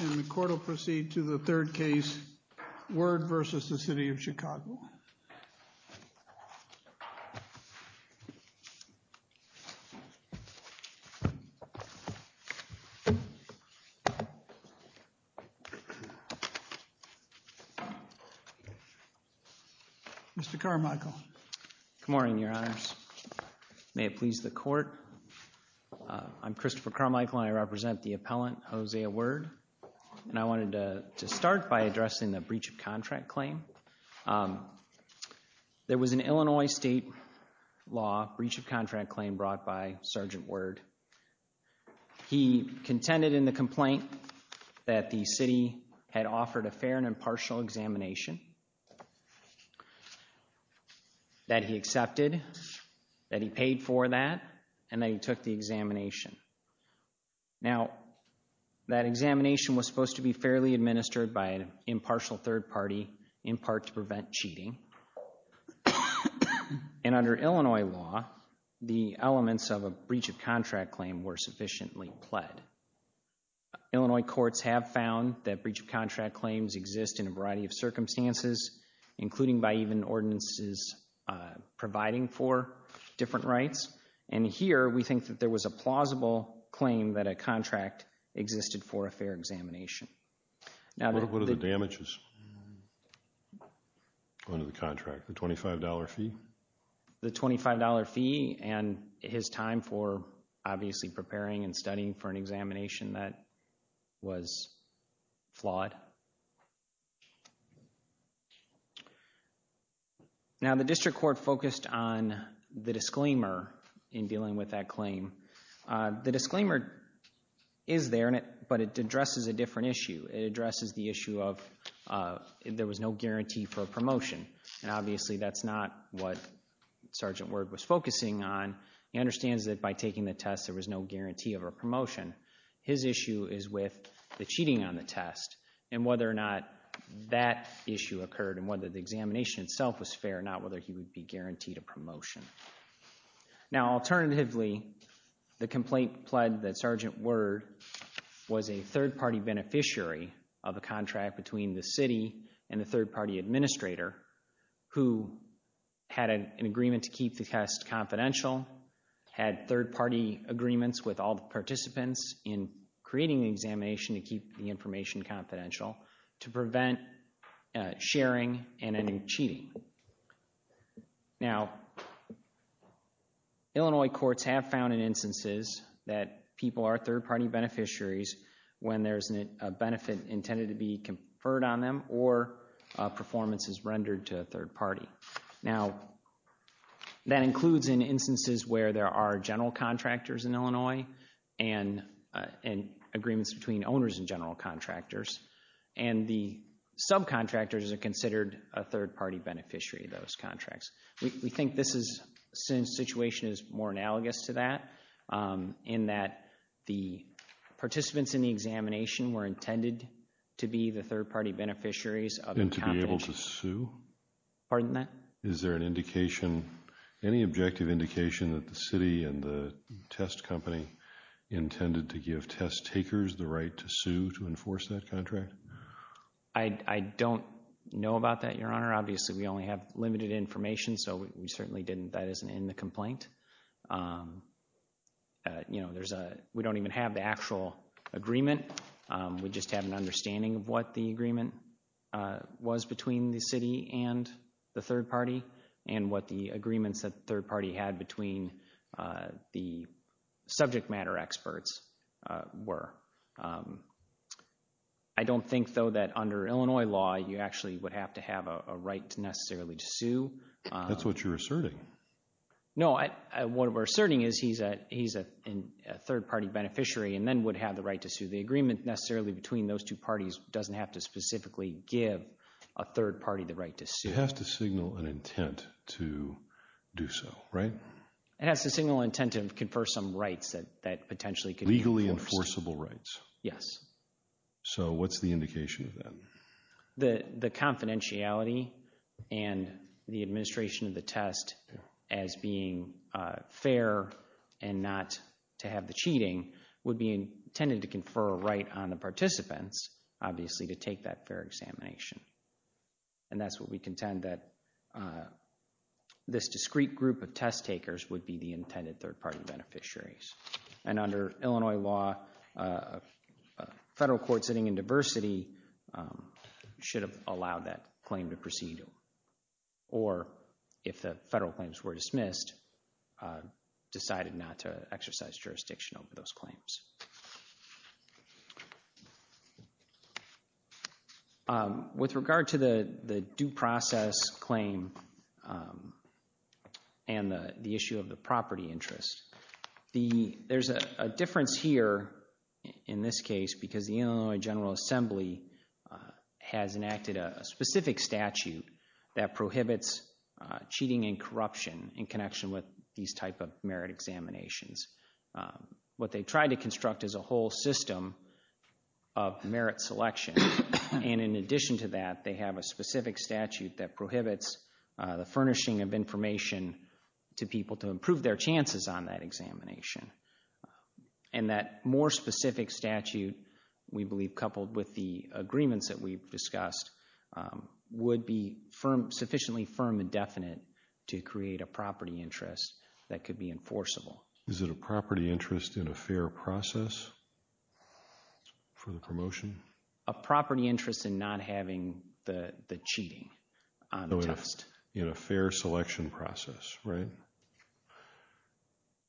And the court will proceed to the third case, Word v. City of Chicago. Mr. Carmichael. Good morning, Your Honors. May it please the court, I'm Christopher Carmichael and I represent the appellant, Hosea Word. And I wanted to start by addressing the breach of contract claim. There was an Illinois state law breach of contract claim brought by Sergeant Word. He contended in the complaint that the city had offered a fair and impartial examination that he accepted, that he paid for that, and that he took the examination. Now, that examination was supposed to be fairly administered by an impartial third party, in part to prevent cheating. And under Illinois law, the elements of a breach of contract claim were sufficiently pled. Illinois courts have found that breach of contract claims exist in a variety of circumstances, including by even ordinances providing for different rights. And here, we think that there was a plausible claim that a contract existed for a fair examination. Now, the... What are the damages under the contract, the $25 fee? The $25 fee and his time for, obviously, preparing and studying for an examination that was flawed. Now, the district court focused on the disclaimer in dealing with that claim. The disclaimer is there, but it addresses a different issue. It addresses the issue of there was no guarantee for a promotion. And obviously, that's not what Sergeant Word was focusing on. He understands that by taking the test, there was no guarantee of a promotion. His issue is with the cheating on the test and whether or not that issue occurred and whether the examination itself was fair, not whether he would be guaranteed a promotion. Now, alternatively, the complaint pled that Sergeant Word was a third party beneficiary of a contract between the city and the third party administrator who had an agreement to in creating the examination to keep the information confidential to prevent sharing and ending cheating. Now, Illinois courts have found in instances that people are third party beneficiaries when there's a benefit intended to be conferred on them or a performance is rendered to a third party. Now, that includes in instances where there are general contractors in Illinois and agreements between owners and general contractors. And the subcontractors are considered a third party beneficiary of those contracts. We think this situation is more analogous to that in that the participants in the examination were intended to be the third party beneficiaries of the confidentiality. And to be able to sue? Pardon that? Is there an indication, any objective indication that the city and the test company intended to give test takers the right to sue to enforce that contract? I don't know about that, Your Honor. Obviously, we only have limited information, so we certainly didn't. That isn't in the complaint. You know, there's a, we don't even have the actual agreement, we just have an understanding of what the agreement was between the city and the third party and what the agreements that the third party had between the subject matter experts were. I don't think, though, that under Illinois law, you actually would have to have a right necessarily to sue. That's what you're asserting. No, what we're asserting is he's a third party beneficiary and then would have the right to sue. So the agreement necessarily between those two parties doesn't have to specifically give a third party the right to sue. It has to signal an intent to do so, right? It has to signal an intent to confer some rights that potentially could be enforced. Legally enforceable rights? Yes. So what's the indication of that? The confidentiality and the administration of the test as being fair and not to have the cheating would be intended to confer a right on the participants, obviously, to take that fair examination. And that's what we contend that this discrete group of test takers would be the intended third party beneficiaries. And under Illinois law, a federal court sitting in diversity should have allowed that claim to proceed. Or if the federal claims were dismissed, decided not to exercise jurisdiction over those claims. With regard to the due process claim and the issue of the property interest, there's a difference here in this case because the Illinois General Assembly has enacted a specific statute that prohibits cheating and corruption in connection with these type of merit examinations. What they've tried to construct is a whole system of merit selection, and in addition to that, they have a specific statute that prohibits the furnishing of information to people to improve their chances on that examination. And that more specific statute, we believe coupled with the agreements that we've discussed, would be sufficiently firm and definite to create a property interest that could be enforceable. Is it a property interest in a fair process for the promotion? A property interest in not having the cheating on the test. In a fair selection process, right?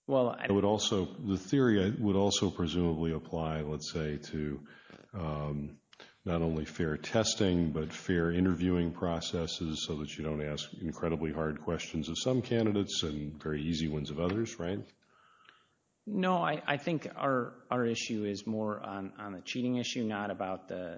Well, I would also, the theory would also presumably apply, let's say, to not only fair testing but fair interviewing processes so that you don't ask incredibly hard questions of some candidates and very easy ones of others, right? No, I think our issue is more on the cheating issue, not about the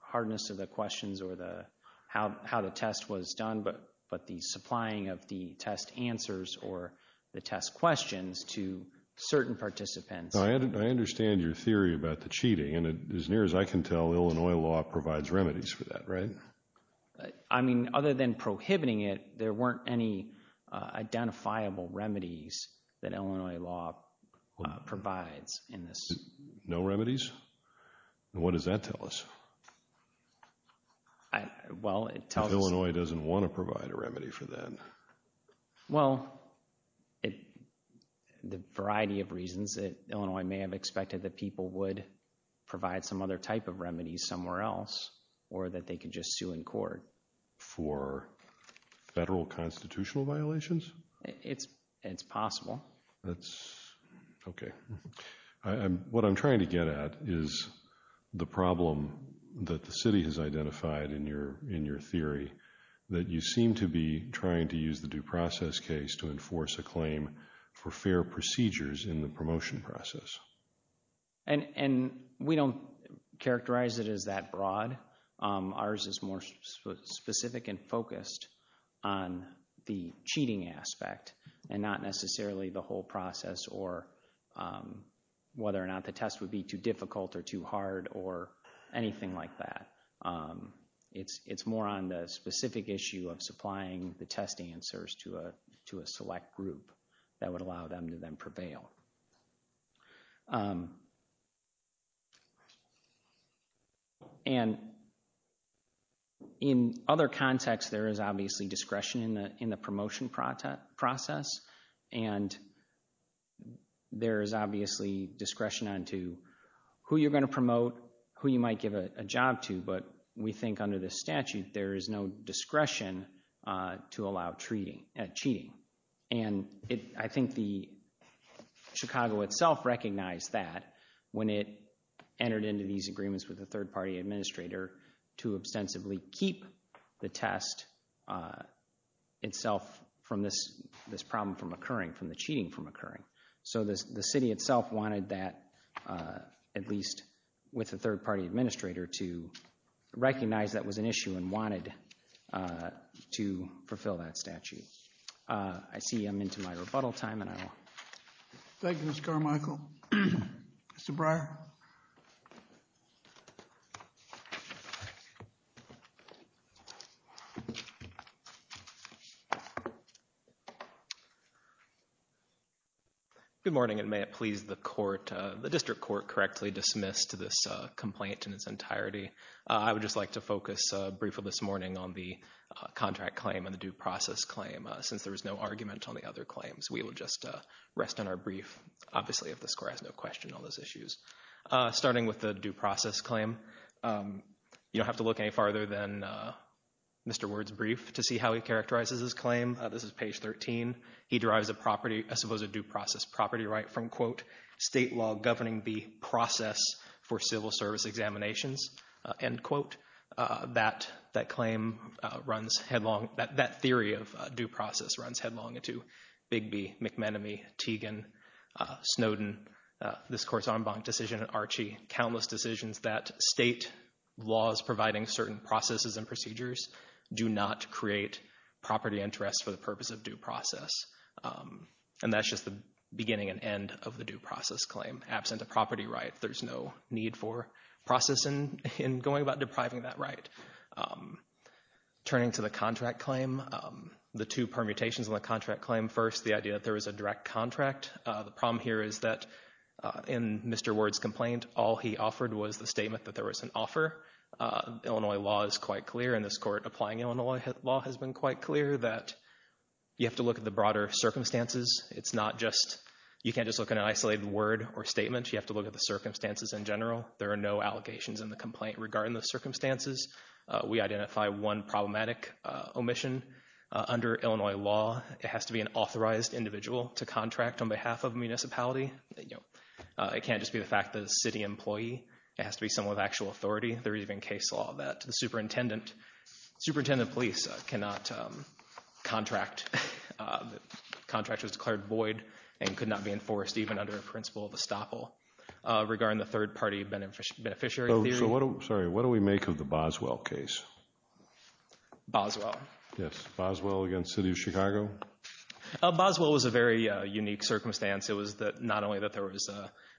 hardness of the questions or how the test was done, but the supplying of the test answers or the test questions to certain participants. I understand your theory about the cheating, and as near as I can tell, Illinois law provides remedies for that, right? I mean, other than prohibiting it, there weren't any identifiable remedies that Illinois law provides in this. No remedies? And what does that tell us, if Illinois doesn't want to provide a remedy for that? Well, the variety of reasons that Illinois may have expected that people would provide some other type of remedies somewhere else or that they could just sue in court. For federal constitutional violations? It's possible. That's, okay. What I'm trying to get at is the problem that the city has identified in your theory, that you seem to be trying to use the due process case to enforce a claim for fair procedures in the promotion process. And we don't characterize it as that broad. Ours is more specific and focused on the cheating aspect and not necessarily the whole process or whether or not the test would be too difficult or too hard or anything like that. It's more on the specific issue of supplying the test answers to a select group that would allow them to then prevail. And in other contexts, there is obviously discretion in the promotion process, and there is obviously discretion on to who you're going to promote, who you might give a job to, but we think under this statute, there is no discretion to allow cheating. And I think Chicago itself recognized that when it entered into these agreements with the third party administrator to ostensibly keep the test itself from this problem from occurring, from the cheating from occurring. So the city itself wanted that, at least with the third party administrator, to recognize that was an issue and wanted to fulfill that statute. I see I'm into my rebuttal time, and I will... Thank you, Mr. Carmichael. Mr. Breyer. Good morning, and may it please the court, the district court, correctly dismiss to this complaint in its entirety. I would just like to focus briefly this morning on the contract claim and the due process claim. Since there was no argument on the other claims, we will just rest on our brief, obviously if the score has no question on those issues. Starting with the due process claim, you don't have to look any farther than Mr. Ward's brief to see how he characterizes his claim. This is page 13. He derives a property, I suppose a due process property right from, quote, state law governing the process for civil service examinations, end quote. That claim runs headlong, that theory of due process runs headlong into Bigby, McManamie, Teagan, Snowden, this court's en banc decision in Archie, countless decisions that state laws providing certain processes and procedures do not create property interest for the purpose of due process. And that's just the beginning and end of the due process claim. Absent a property right, there's no need for process in going about depriving that right. Turning to the contract claim, the two permutations on the contract claim, first the idea that there was a direct contract. The problem here is that in Mr. Ward's complaint, all he offered was the statement that there was an offer. Illinois law is quite clear and this court applying Illinois law has been quite clear that you have to look at the broader circumstances. It's not just, you can't just look at an isolated word or statement. You have to look at the circumstances in general. There are no allegations in the complaint regarding the circumstances. We identify one problematic omission. Under Illinois law, it has to be an authorized individual to contract on behalf of a municipality. It can't just be the fact that a city employee. It has to be someone with actual authority. There's even case law that the superintendent, superintendent of police cannot contract. Contract was declared void and could not be enforced even under the principle of estoppel. Regarding the third party beneficiary theory. So what do we make of the Boswell case? Boswell. Yes. Boswell against the city of Chicago? Boswell was a very unique circumstance. It was not only that there was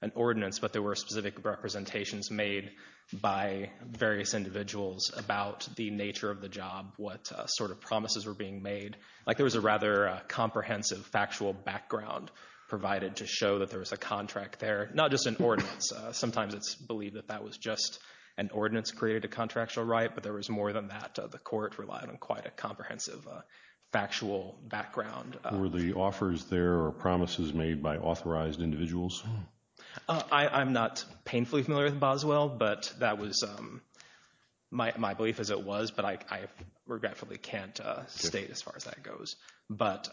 an ordinance, but there were specific representations made by various individuals about the nature of the job, what sort of promises were being made. Like there was a rather comprehensive factual background provided to show that there was a contract there, not just an ordinance. Sometimes it's believed that that was just an ordinance created a contractual right, but there was more than that. The court relied on quite a comprehensive factual background. Were the offers there or promises made by authorized individuals? I'm not painfully familiar with Boswell, but that was my belief as it was. But I regretfully can't state as far as that goes. But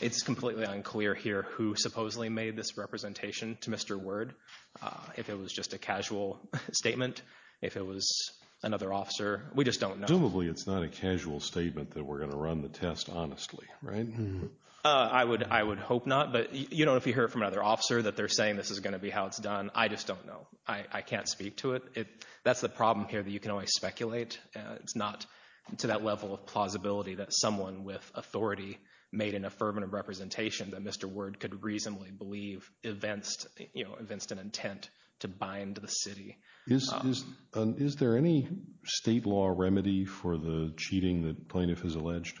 it's completely unclear here who supposedly made this representation to Mr. Word. If it was just a casual statement, if it was another officer, we just don't know. Presumably it's not a casual statement that we're going to run the test honestly, right? I would hope not. But if you hear from another officer that they're saying this is going to be how it's done, I just don't know. I can't speak to it. That's the problem here that you can always speculate. It's not to that level of plausibility that someone with authority made an affirmative representation that Mr. Word could reasonably believe evinced an intent to bind the city. Is there any state law remedy for the cheating that plaintiff has alleged?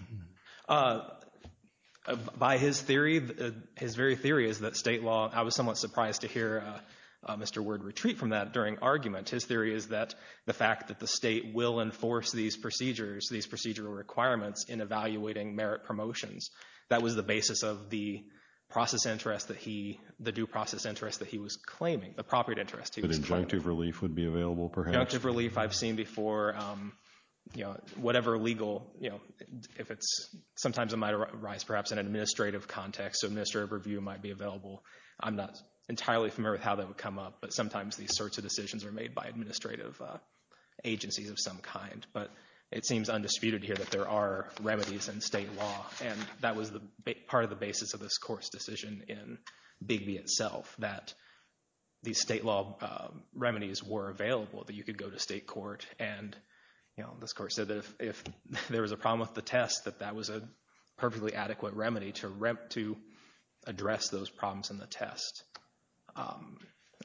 By his theory, his very theory is that state law, I was somewhat surprised to hear Mr. Word retreat from that during argument. His theory is that the fact that the state will enforce these procedures, these procedural requirements in evaluating merit promotions, that was the basis of the process interest that he, the due process interest that he was claiming, the property interest. The injunctive relief would be available perhaps? Injunctive relief I've seen before, you know, whatever legal, you know, if it's, sometimes it might arise perhaps in administrative context. So administrative review might be available. I'm not entirely familiar with how that would come up, but sometimes these sorts of decisions are made by administrative agencies of some kind. But it seems undisputed here that there are remedies in state law. And that was the part of the basis of this court's decision in Bigby itself, that these state law remedies were available, that you could go to state court. And, you know, this court said that if there was a problem with the test, that that was a perfectly adequate remedy to address those problems in the test.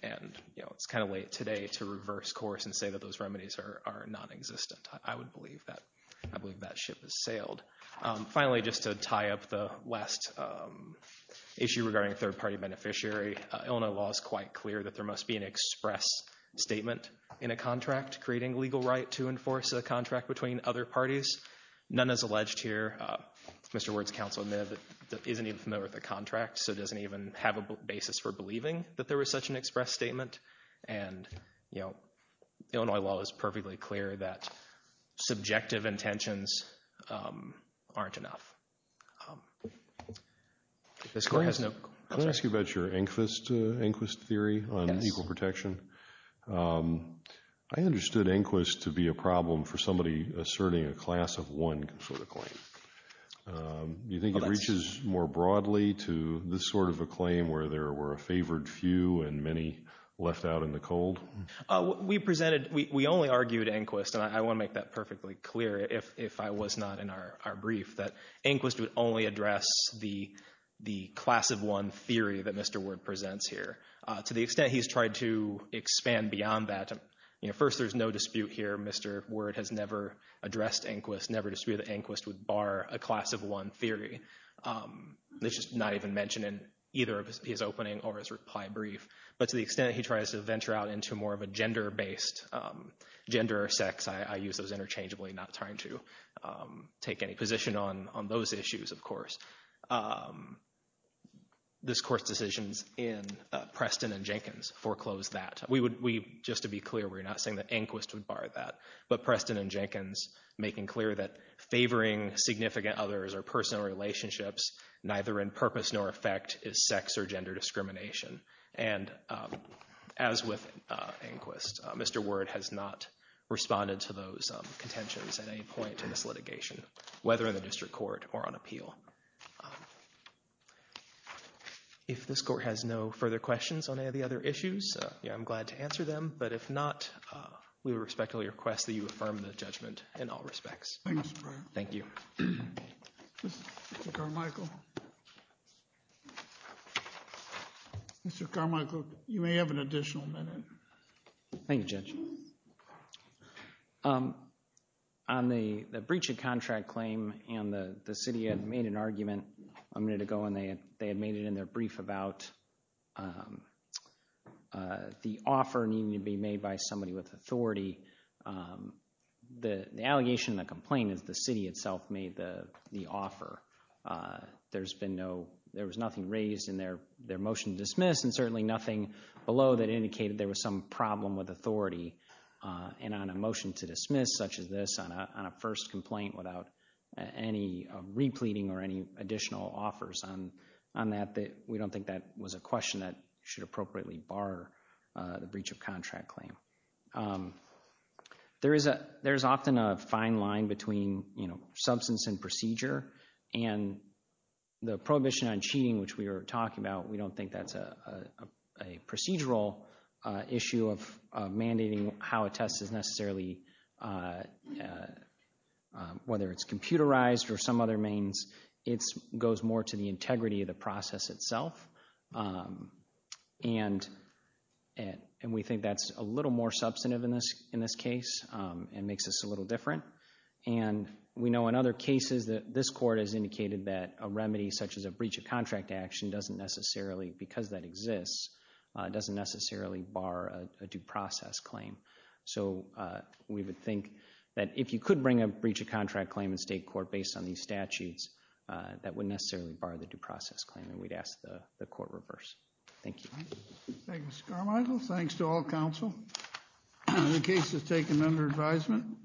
And, you know, it's kind of late today to reverse course and say that those remedies are non-existent. I would believe that. I believe that ship has sailed. Finally, just to tie up the last issue regarding third-party beneficiary, Illinois law is quite clear that there must be an express statement in a contract creating legal right to enforce a contract between other parties. None is alleged here. Mr. Ward's counsel admitted that he isn't even familiar with the contract, so doesn't even have a basis for believing that there was such an express statement. And, you know, Illinois law is perfectly clear that subjective intentions aren't enough. This court has no... Can I ask you about your Anquist theory on equal protection? I understood Anquist to be a problem for somebody asserting a class of one sort of claim. Do you think it reaches more broadly to this sort of a claim where there were a favored few and many left out in the cold? We presented, we only argued Anquist, and I want to make that perfectly clear if I was not in our brief, that Anquist would only address the class of one theory that Mr. Ward presents here. To the extent he's tried to expand beyond that, first, there's no dispute here. Mr. Ward has never addressed Anquist, never disputed that Anquist would bar a class of one theory. It's just not even mentioned in either of his opening or his reply brief. But to the extent he tries to venture out into more of a gender-based, gender or sex, I use those interchangeably, not trying to take any position on those issues, of course. This Court's decisions in Preston and Jenkins foreclosed that. We would, just to be clear, we're not saying that Anquist would bar that, but Preston and Jenkins making clear that favoring significant others or personal relationships neither in purpose nor effect is sex or gender discrimination. And as with Anquist, Mr. Ward has not responded to those contentions at any point in this litigation, whether in the district court or on appeal. If this Court has no further questions on any of the other issues, I'm glad to answer them. But if not, we respectfully request that you affirm the judgment in all respects. Thank you. Mr. Carmichael, you may have an additional minute. Thank you, Judge. On the breach of contract claim, and the city had made an argument a minute ago, and they had made it in their brief about the offer needing to be made by somebody with authority. The allegation and the complaint is the city itself made the offer. There's been no, there was nothing raised in their motion to dismiss and certainly nothing below that indicated there was some problem with authority. And on a motion to dismiss such as this on a first complaint without any repleting or any additional offers on that, we don't think that was a question that should appropriately bar the breach of contract claim. There is often a fine line between, you know, substance and procedure. And the prohibition on cheating, which we were talking about, we don't think that's a procedural issue of mandating how a test is necessarily, whether it's computerized or some other means, it goes more to the integrity of the process itself. And we think that's a little more substantive in this case and makes us a little different. And we know in other cases that this court has indicated that a remedy such as a breach of contract action doesn't necessarily, because that exists, doesn't necessarily bar a due process claim. So we would think that if you could bring a breach of contract claim in state court based on these statutes, that wouldn't necessarily bar the due process claim. And we'd ask the court reverse. Thank you. Thank you, Mr. Carmichael. Thanks to all counsel. The case is taken under advisement.